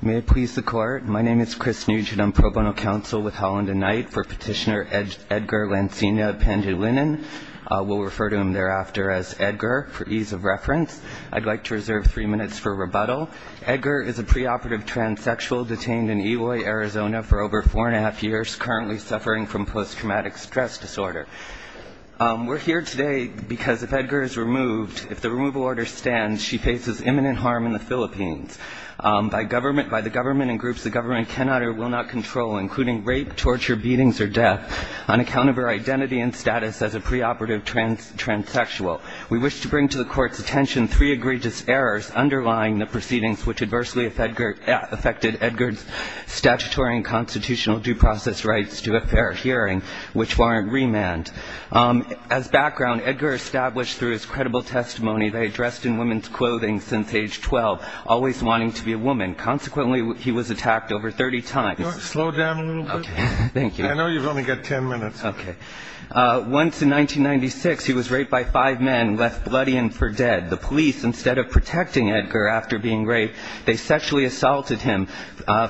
May it please the court. My name is Chris Nugent. I'm pro bono counsel with Holland & Knight for petitioner Edgar Lansina Pandilinan. We'll refer to him thereafter as Edgar for ease of reference. I'd like to reserve three minutes for rebuttal. Edgar is a preoperative transsexual detained in Eloy, Arizona, for over four and a half years, currently suffering from post-traumatic stress disorder. We're here today because if Edgar is removed, if the removal order stands, she faces imminent harm in the Philippines. By the government and groups the government cannot or will not control, including rape, torture, beatings, or death, on account of her identity and status as a preoperative transsexual. We wish to bring to the court's attention three egregious errors underlying the proceedings which adversely affected Edgar's statutory and constitutional due process rights to a fair hearing, which warrant remand. As background, Edgar established through his credible testimony that he had dressed in women's clothing since age 12, always wanting to be a woman. Consequently, he was attacked over 30 times. Slow down a little bit. Thank you. I know you've only got ten minutes. Okay. Once in 1996, he was raped by five men and left bloody and for dead. The police, instead of protecting Edgar after being raped, they sexually assaulted him,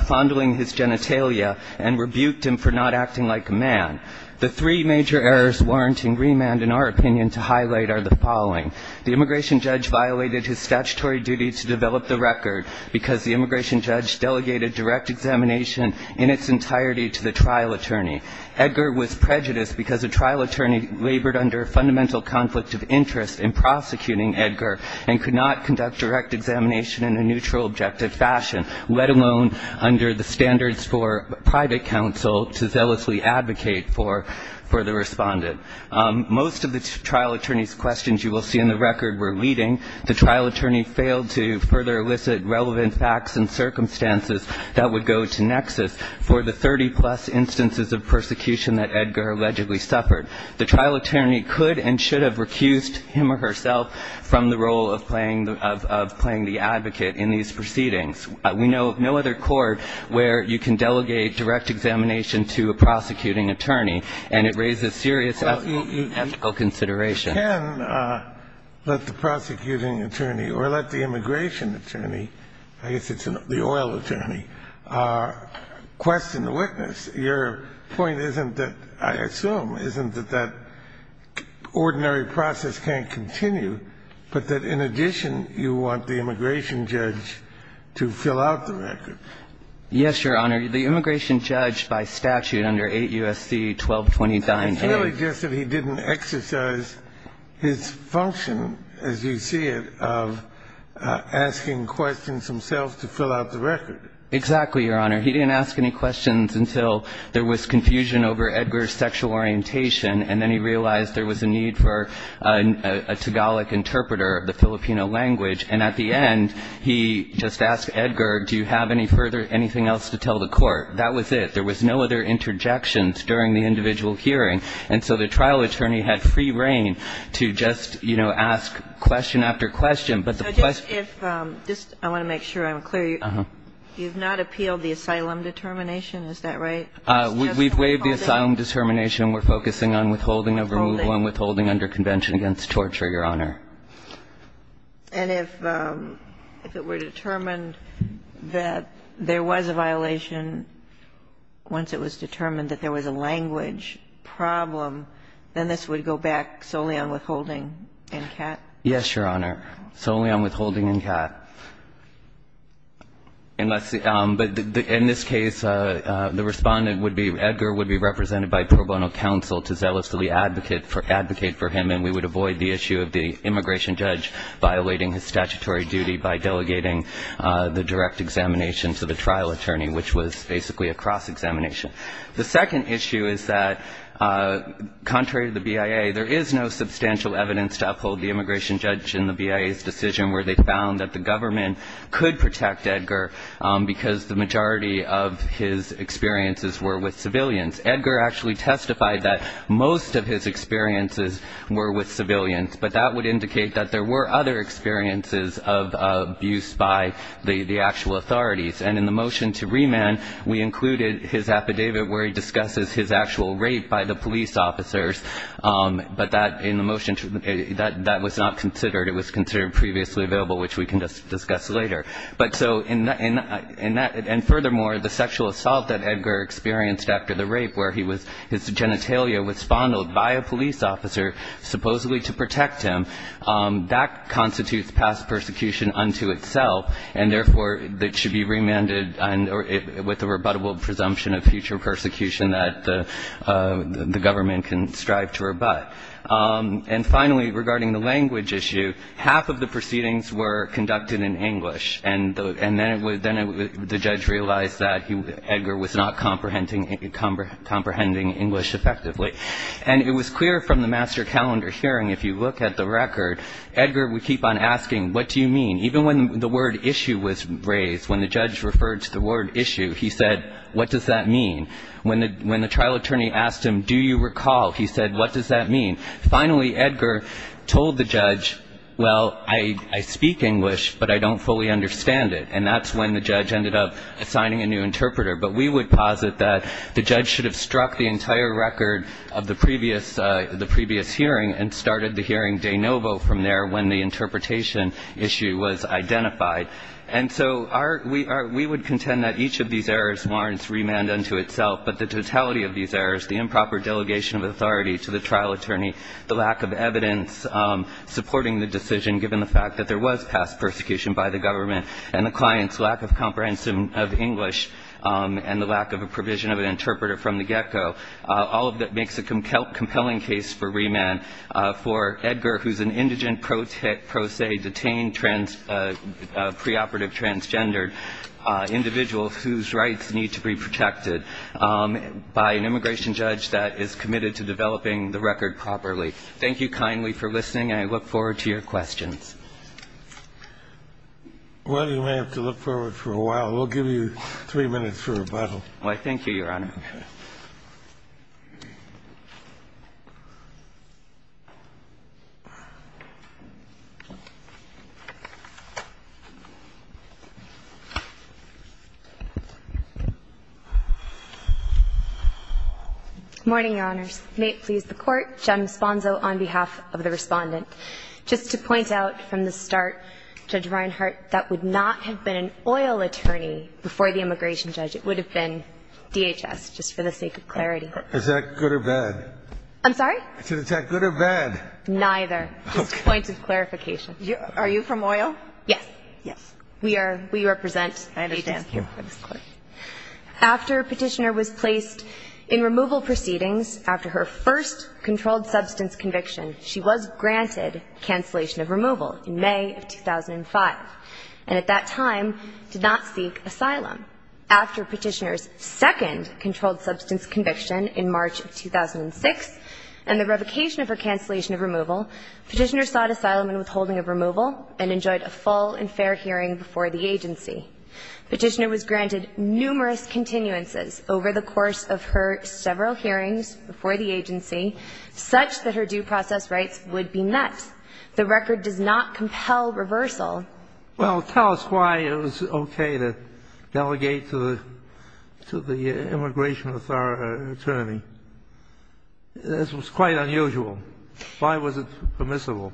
fondling his genitalia, and rebuked him for not acting like a man. The three major errors warranting remand, in our opinion, to highlight are the following. The immigration judge violated his statutory duty to develop the record because the immigration judge delegated direct examination in its entirety to the trial attorney. Edgar was prejudiced because a trial attorney labored under a fundamental conflict of interest in prosecuting Edgar and could not conduct direct examination in a neutral, objective fashion, let alone under the standards for private counsel to zealously advocate for the respondent. Most of the trial attorney's questions, you will see in the record, were leading. The trial attorney failed to further elicit relevant facts and circumstances that would go to nexus for the 30-plus instances of persecution that Edgar allegedly suffered. The trial attorney could and should have recused him or herself from the role of playing the advocate in these proceedings. We know of no other court where you can delegate direct examination to a prosecuting attorney, and it raises serious ethical considerations. Kennedy, you can let the prosecuting attorney or let the immigration attorney, I guess it's the oil attorney, question the witness. Your point isn't that, I assume, isn't that that ordinary process can't continue, but that in addition you want the immigration judge to fill out the record. Yes, Your Honor. The immigration judge by statute under 8 U.S.C. 1229A. It's really just that he didn't exercise his function, as you see it, of asking questions himself to fill out the record. Exactly, Your Honor. He didn't ask any questions until there was confusion over Edgar's sexual orientation, and then he realized there was a need for a Tagalog interpreter, the Filipino language. And at the end, he just asked Edgar, do you have any further anything else to tell the court? That was it. There was no other interjections during the individual hearing. And so the trial attorney had free rein to just, you know, ask question after question. But the question was the question. So just if this – I want to make sure I'm clear. You have not appealed the asylum determination, is that right? We've waived the asylum determination. We're focusing on withholding of removal and withholding under convention against torture, Your Honor. And if it were determined that there was a violation, once it was determined that there was a language problem, then this would go back solely on withholding and CAT? Yes, Your Honor. Solely on withholding and CAT. But in this case, the Respondent would be – Edgar would be represented by pro bono counsel to zealously advocate for him, and we would avoid the issue of the immigration judge violating his statutory duty by delegating the direct examination to the trial attorney, which was basically a cross-examination. The second issue is that contrary to the BIA, there is no substantial evidence to uphold the immigration judge in the BIA's decision where they found that the government could protect Edgar because the majority of his experiences were with civilians. Edgar actually testified that most of his experiences were with civilians, but that would indicate that there were other experiences of abuse by the actual authorities. And in the motion to remand, we included his affidavit where he discusses his actual rape by the police officers, but that in the motion – that was not considered. It was considered previously available, which we can discuss later. But so in that – and furthermore, the sexual assault that Edgar experienced after the rape where he was – his genitalia was fondled by a police officer supposedly to protect him, that constitutes past persecution unto itself, and therefore, that should be remanded with a rebuttable presumption of future persecution that the government can strive to rebut. And finally, regarding the language issue, half of the proceedings were conducted in English, and then the judge realized that Edgar was not comprehending English effectively. And it was clear from the master calendar hearing, if you look at the record, Edgar would keep on asking, what do you mean? Even when the word issue was raised, when the judge referred to the word issue, he said, what does that mean? When the trial attorney asked him, do you recall, he said, what does that mean? Finally, Edgar told the judge, well, I speak English, but I don't fully understand it, and that's when the judge ended up assigning a new interpreter. But we would posit that the judge should have struck the entire record of the previous – the previous hearing and started the hearing de novo from there when the interpretation issue was identified. And so our – we would contend that each of these errors warrants remand unto itself, but the totality of these errors, the improper delegation of authority to the trial attorney, the lack of evidence supporting the decision given the fact that there was past persecution by the government, and the client's lack of comprehension of English and the lack of a provision of an interpreter from the get-go, all of that makes a compelling case for remand for Edgar, who's an indigent, pro se, detained, preoperative, transgendered individual whose rights need to be protected by an immigration judge that is committed to developing the record properly. Thank you kindly for listening, and I look forward to your questions. Well, you may have to look forward for a while. We'll give you three minutes for rebuttal. Why, thank you, Your Honor. Okay. Morning, Your Honors. May it please the Court. Jen Esponzo on behalf of the Respondent. Just to point out from the start, Judge Reinhart, that would not have been an oil attorney before the immigration judge. It would have been DHS, just for the sake of clarity. Is that good or bad? I'm sorry? Is that good or bad? Neither. Just a point of clarification. Are you from oil? Yes. Yes. We are. We represent DHS. Thank you. After Petitioner was placed in removal proceedings after her first controlled substance conviction, she was granted cancellation of removal in May of 2005, and at that time did not seek asylum. After Petitioner's second controlled substance conviction in March of 2006 and the revocation of her cancellation of removal, Petitioner sought asylum and withholding of removal and enjoyed a full and fair hearing before the agency. Petitioner was granted numerous continuances over the course of her several hearings before the agency, such that her due process rights would be met. The record does not compel reversal. Well, tell us why it was okay to delegate to the immigration attorney. This was quite unusual. Why was it permissible?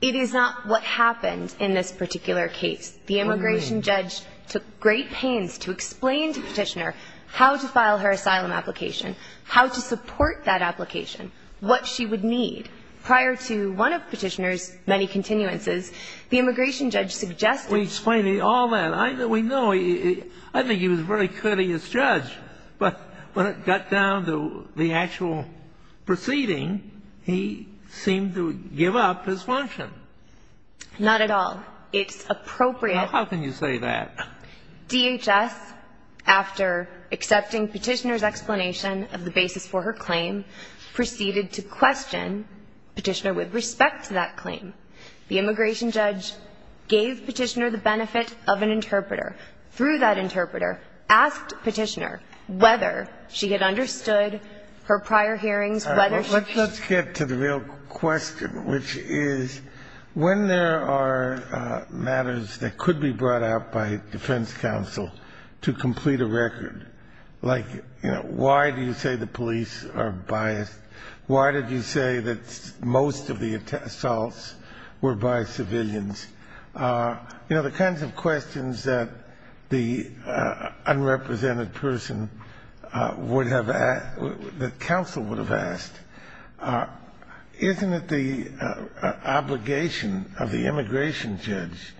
It is not what happened in this particular case. The immigration judge took great pains to explain to Petitioner how to file her asylum application, how to support that application, what she would need. Prior to one of Petitioner's many continuances, the immigration judge suggested We explained all that. We know. I think he was very courteous judge, but when it got down to the actual proceeding, he seemed to give up his function. Not at all. It's appropriate. How can you say that? DHS, after accepting Petitioner's explanation of the basis for her claim, proceeded to question Petitioner with respect to that claim. The immigration judge gave Petitioner the benefit of an interpreter. Through that interpreter, asked Petitioner whether she had understood her prior hearings, whether she Let's get to the real question, which is, when there are matters that could be brought out by defense counsel to complete a record, like, you know, why do you say the police are biased? Why did you say that most of the assaults were by civilians? You know, the kinds of questions that the unrepresented person would have asked, that counsel would have asked, isn't it the obligation of the immigration judge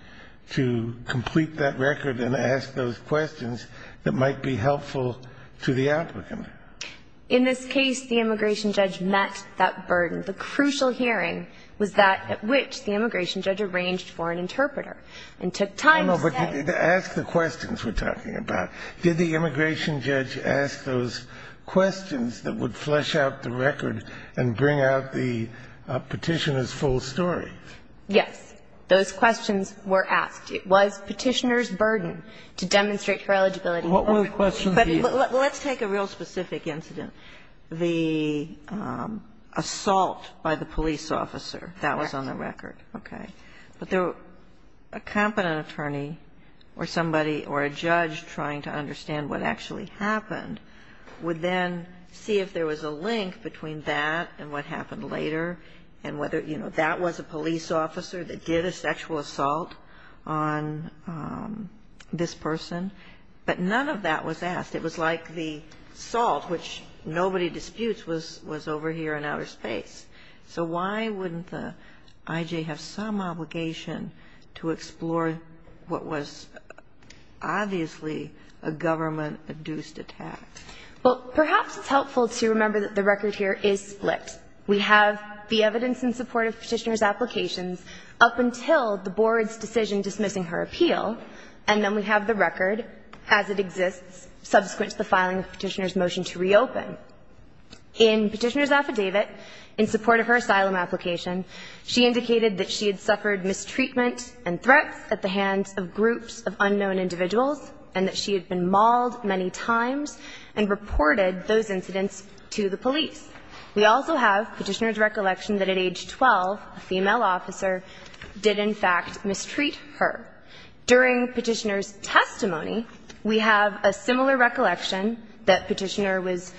to complete that record and ask those questions that might be helpful to the applicant? In this case, the immigration judge met that burden. The crucial hearing was that at which the immigration judge arranged for an interpreter and took time to say No, no, but ask the questions we're talking about. Did the immigration judge ask those questions that would flesh out the record and bring out the Petitioner's full story? Yes. Those questions were asked. It was Petitioner's burden to demonstrate her eligibility. But let's take a real specific incident. The assault by the police officer, that was on the record. Okay. But a competent attorney or somebody or a judge trying to understand what actually happened would then see if there was a link between that and what happened later and whether, you know, that was a police officer that did a sexual assault on this person. But none of that was asked. It was like the assault, which nobody disputes, was over here in outer space. So why wouldn't the I.J. have some obligation to explore what was obviously a government-induced attack? Well, perhaps it's helpful to remember that the record here is split. We have the evidence in support of Petitioner's applications up until the Board's decision dismissing her appeal. And then we have the record as it exists subsequent to the filing of Petitioner's motion to reopen. In Petitioner's affidavit, in support of her asylum application, she indicated that she had suffered mistreatment and threats at the hands of groups of unknown individuals and that she had been mauled many times and reported those incidents to the police. We also have Petitioner's recollection that at age 12, a female officer did, in fact, mistreat her. During Petitioner's testimony, we have a similar recollection that Petitioner was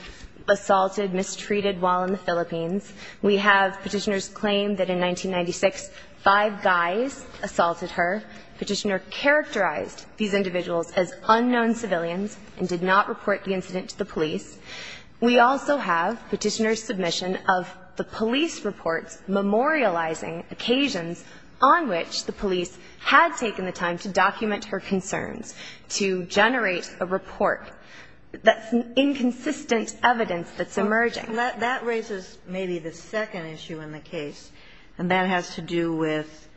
assaulted, mistreated while in the Philippines. We have Petitioner's claim that in 1996, five guys assaulted her. Petitioner characterized these individuals as unknown civilians and did not report the incident to the police. We also have Petitioner's submission of the police reports memorializing occasions on which the police had taken the time to document her concerns, to generate a report. That's inconsistent evidence that's emerging. And that raises maybe the second issue in the case, and that has to do with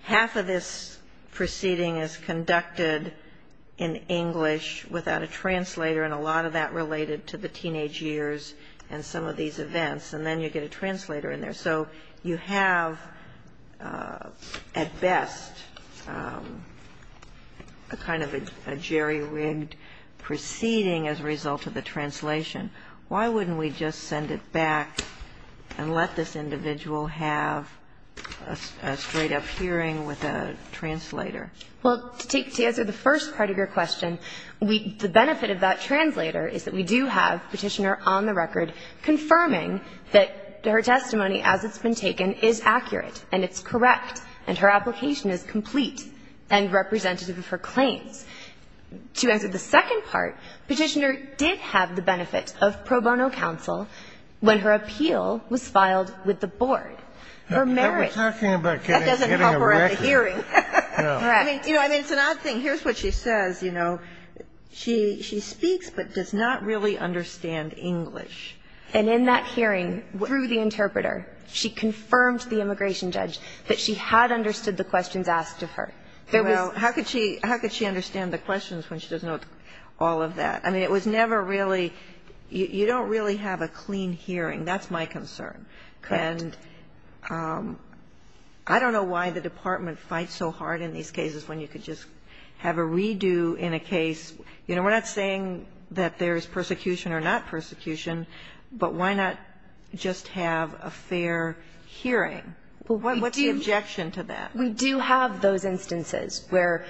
half of this proceeding is conducted in English without a translator, and a lot of that related to the teenage years and some of these events. And then you get a translator in there. So you have, at best, a kind of a jerry-rigged proceeding as a result of the translation. Why wouldn't we just send it back and let this individual have a straight-up hearing with a translator? Well, to answer the first part of your question, the benefit of that translator is that we do have Petitioner on the record confirming that her testimony, as it's been taken, is accurate and it's correct and her application is complete and representative of her claims. To answer the second part, Petitioner did have the benefit of pro bono counsel when her appeal was filed with the board. Her merits. That doesn't help her at the hearing. I mean, it's an odd thing. Well, here's what she says. You know, she speaks but does not really understand English. And in that hearing, through the interpreter, she confirmed to the immigration judge that she had understood the questions asked of her. There was not. Well, how could she understand the questions when she doesn't know all of that? I mean, it was never really you don't really have a clean hearing. That's my concern. Correct. And I don't know why the Department fights so hard in these cases when you could just have a redo in a case. You know, we're not saying that there is persecution or not persecution, but why not just have a fair hearing? What's the objection to that? We do have those instances where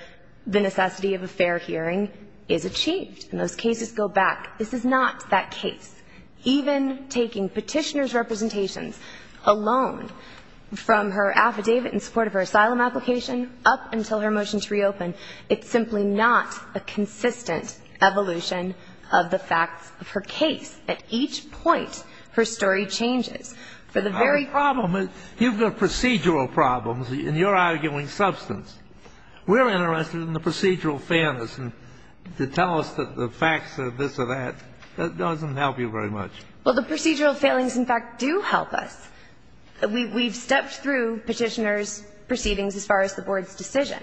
the necessity of a fair hearing is achieved and those cases go back. This is not that case. Even taking Petitioner's representations alone from her affidavit in support of her asylum application up until her motion to reopen, it's simply not a consistent evolution of the facts of her case. At each point, her story changes. Our problem is you've got procedural problems and you're arguing substance. We're interested in the procedural fairness. And to tell us the facts of this or that, that doesn't help you very much. Well, the procedural failings, in fact, do help us. We've stepped through Petitioner's proceedings as far as the Board's decision.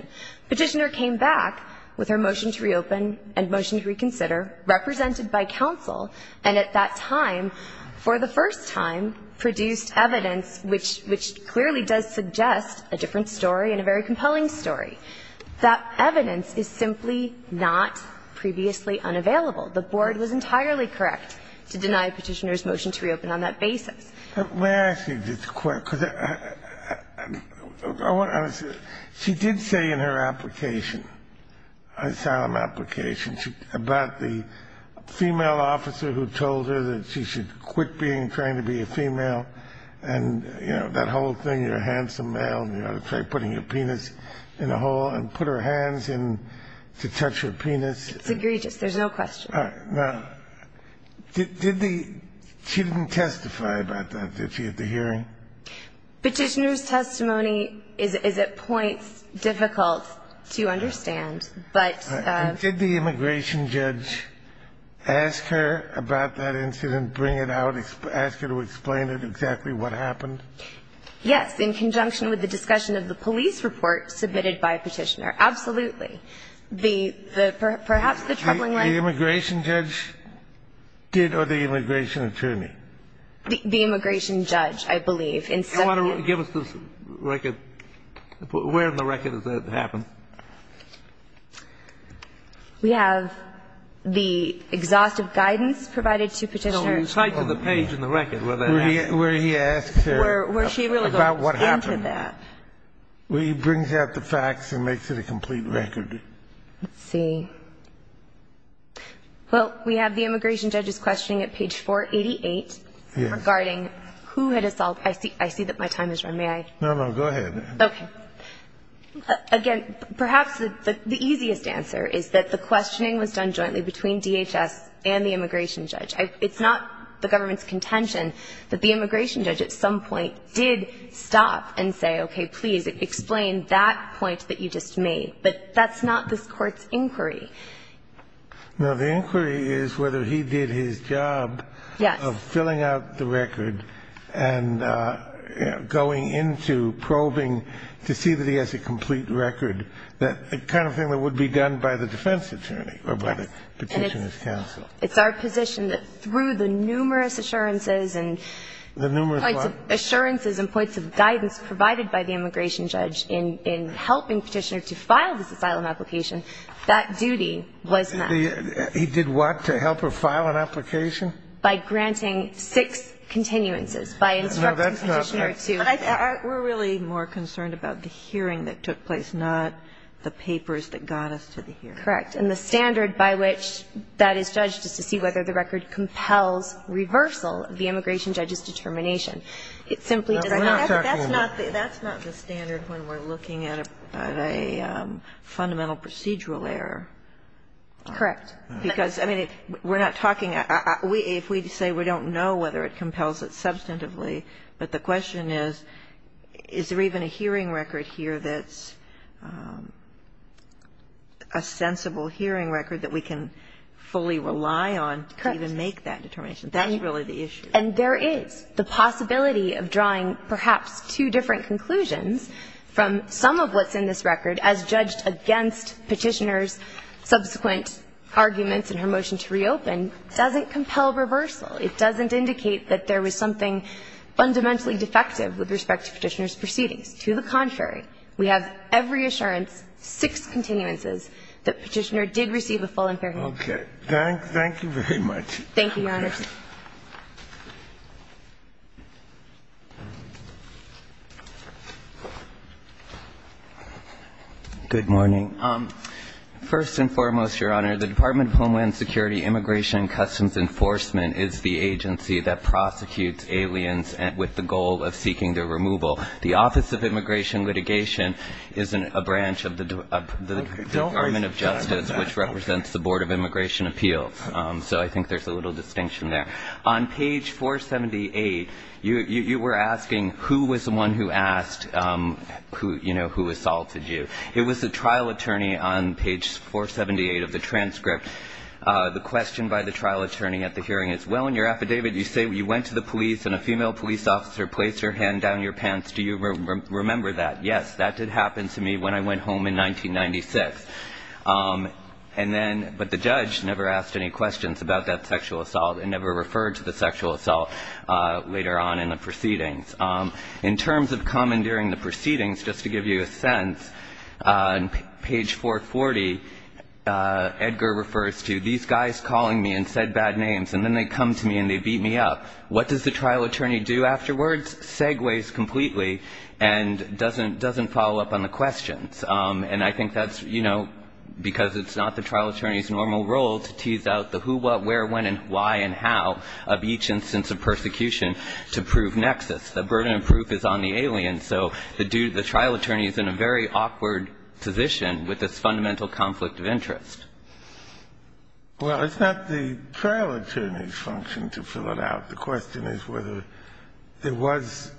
Petitioner came back with her motion to reopen and motion to reconsider, represented by counsel, and at that time, for the first time, produced evidence which clearly does suggest a different story and a very compelling story. That evidence is simply not previously unavailable. The Board was entirely correct to deny Petitioner's motion to reopen on that basis. May I ask you just a quick, because I want to say, she did say in her application, her asylum application, about the female officer who told her that she should quit being trained to be a female and, you know, that whole thing, you're a handsome male and you ought to try putting your penis in a hole and put her hands in to touch her penis. It's egregious. There's no question. All right. Now, did the ---- she didn't testify about that, did she, at the hearing? Petitioner's testimony is at points difficult to understand, but ---- All right. Did the immigration judge ask her about that incident, bring it out, ask her to explain it, exactly what happened? Yes. In conjunction with the discussion of the police report submitted by Petitioner. Absolutely. The ---- perhaps the troubling line ---- The immigration judge did or the immigration attorney? The immigration judge, I believe. I want to ---- Give us the record. Where in the record does that happen? We have the exhaustive guidance provided to Petitioner. Well, you type in the page in the record where that happens. Where he asks her about what happened. Where she really goes into that. Well, he brings out the facts and makes it a complete record. Let's see. Well, we have the immigration judge's questioning at page 488. Yes. Regarding who had assaulted. I see that my time has run. May I? No, no. Go ahead. Okay. Again, perhaps the easiest answer is that the questioning was done jointly between DHS and the immigration judge. It's not the government's contention that the immigration judge at some point did stop and say, okay, please explain that point that you just made. But that's not this Court's inquiry. No. The inquiry is whether he did his job of filling out the record and going into probing to see that he has a complete record, the kind of thing that would be done by the defense attorney or by the Petitioner's counsel. It's our position that through the numerous assurances and ---- The numerous what? Assurances and points of guidance provided by the immigration judge in helping Petitioner to file this asylum application, that duty was met. He did what? To help her file an application? By granting six continuances, by instructing Petitioner to ---- No, that's not correct. We're really more concerned about the hearing that took place, not the papers that got us to the hearing. Correct. And the standard by which that is judged is to see whether the record compels reversal of the immigration judge's determination. It simply does not. That's not the standard when we're looking at a fundamental procedural error. Correct. Because, I mean, we're not talking ---- if we say we don't know whether it compels it substantively, but the question is, is there even a hearing record here that's a sensible hearing record that we can fully rely on to even make that determination? That's really the issue. And there is. The possibility of drawing perhaps two different conclusions from some of what's in this record as judged against Petitioner's subsequent arguments in her motion to reopen doesn't compel reversal. It doesn't indicate that there was something fundamentally defective with respect to Petitioner's proceedings. To the contrary, we have every assurance, six continuances, that Petitioner did receive a full and fair hearing. Okay. Thank you very much. Thank you, Your Honor. Good morning. First and foremost, Your Honor, the Department of Homeland Security Immigration and Customs Enforcement is the agency that prosecutes aliens with the goal of seeking their removal. The Office of Immigration Litigation is a branch of the Department of Justice, which represents the Board of Immigration Appeals. So I think there's a little distinction there. On page 478, you were asking who was the one who asked, you know, who assaulted you. It was the trial attorney on page 478 of the transcript. The question by the trial attorney at the hearing is, well, in your affidavit, you say you went to the police and a female police officer placed her hand down your pants. Do you remember that? Yes, that did happen to me when I went home in 1996. And then, but the judge never asked any questions about that sexual assault and never referred to the sexual assault later on in the proceedings. In terms of commandeering the proceedings, just to give you a sense, on page 440, Edgar refers to these guys calling me and said bad names, and then they come to me and they beat me up. What does the trial attorney do afterwards? Segues completely and doesn't follow up on the questions. And I think that's, you know, because it's not the trial attorney's normal role to tease out the who, what, where, when and why and how of each instance of persecution to prove nexus. The burden of proof is on the alien. So the trial attorney is in a very awkward position with this fundamental conflict of interest. Well, it's not the trial attorney's function to fill it out. The question is whether there was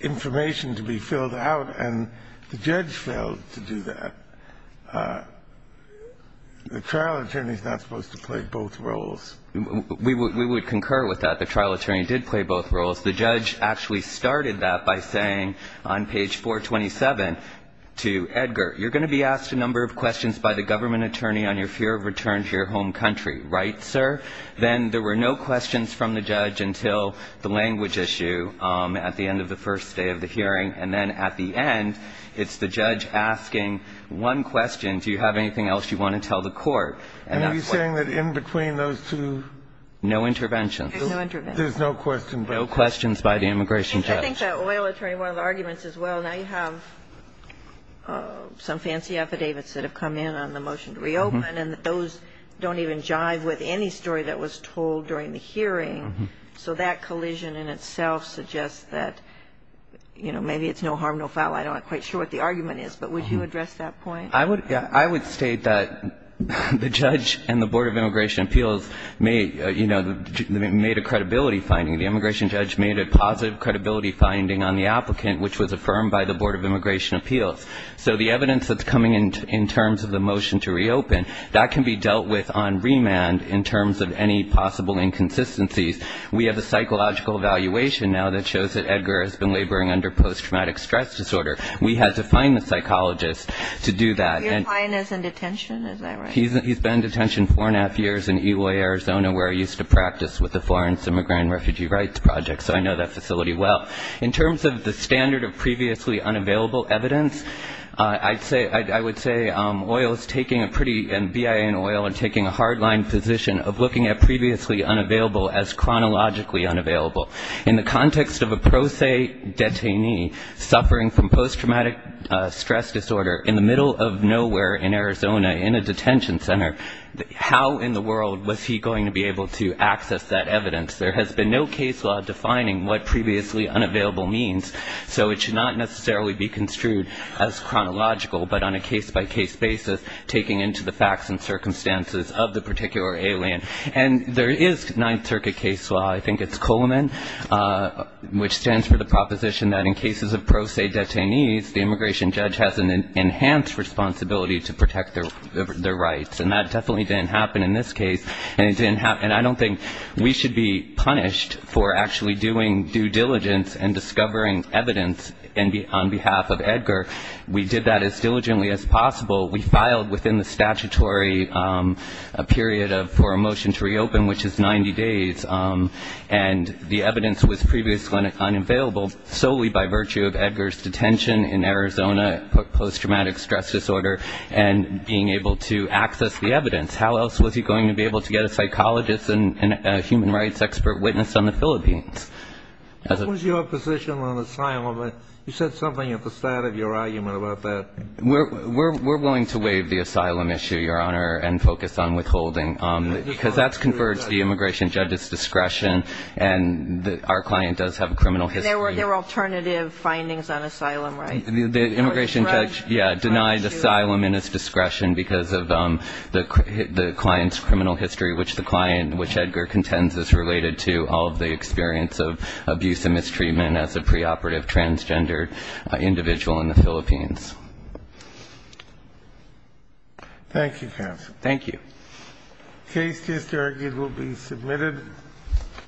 information to be filled out, and the judge failed to do that. The trial attorney is not supposed to play both roles. We would concur with that. The trial attorney did play both roles. The judge actually started that by saying on page 427 to Edgar, you're going to be asked a number of questions by the government attorney on your fear of return to your home country, right, sir? Then there were no questions from the judge until the language issue at the end of the first day of the hearing. And then at the end, it's the judge asking one question, do you have anything else you want to tell the court? And that's why. Are you saying that in between those two? No interventions. There's no intervention. There's no questions. No questions by the immigration judge. I think that oil attorney, one of the arguments as well, now you have some fancy affidavits that have come in on the motion to reopen, and those don't even jive with any story that was told during the hearing, so that collision in itself suggests that, you know, maybe it's no harm, no foul. I'm not quite sure what the argument is, but would you address that point? I would state that the judge and the Board of Immigration Appeals may, you know, made a credibility finding. The immigration judge made a positive credibility finding on the applicant, which was affirmed by the Board of Immigration Appeals. So the evidence that's coming in terms of the motion to reopen, that can be dealt with on remand in terms of any possible inconsistencies. We have a psychological evaluation now that shows that Edgar has been laboring under post-traumatic stress disorder. We had to find the psychologist to do that. Your client is in detention, is that right? He's been in detention four-and-a-half years in Eloy, Arizona, where he used to practice with the Florence Immigrant and Refugee Rights Project. So I know that facility well. In terms of the standard of previously unavailable evidence, I would say oil is taking a pretty bi oil and taking a hard line position of looking at previously unavailable as chronologically unavailable. In the context of a pro se detainee suffering from post-traumatic stress disorder in the middle of nowhere in Arizona in a detention center, how in the world was he going to be able to access that evidence? There has been no case law defining what previously unavailable means, so it should not necessarily be construed as chronological, but on a case-by-case basis, taking a look at the facts and circumstances of the particular alien. And there is Ninth Circuit case law, I think it's Coleman, which stands for the proposition that in cases of pro se detainees, the immigration judge has an enhanced responsibility to protect their rights. And that definitely didn't happen in this case, and I don't think we should be punished for actually doing due diligence and discovering evidence on behalf of Edgar. We did that as diligently as possible. We filed within the statutory period for a motion to reopen, which is 90 days. And the evidence was previously unavailable solely by virtue of Edgar's detention in Arizona, post-traumatic stress disorder, and being able to access the evidence. How else was he going to be able to get a psychologist and a human rights expert witnessed on the Philippines? What was your position on asylum? You said something at the start of your argument about that. We're willing to waive the asylum issue, Your Honor, and focus on withholding, because that's conferred to the immigration judge's discretion, and our client does have a criminal history. And there were alternative findings on asylum, right? The immigration judge denied asylum in his discretion because of the client's criminal history, which the client, which Edgar contends is related to all of the experience of abuse and mistreatment as a preoperative transgender individual in the Philippines. Thank you, counsel. Thank you.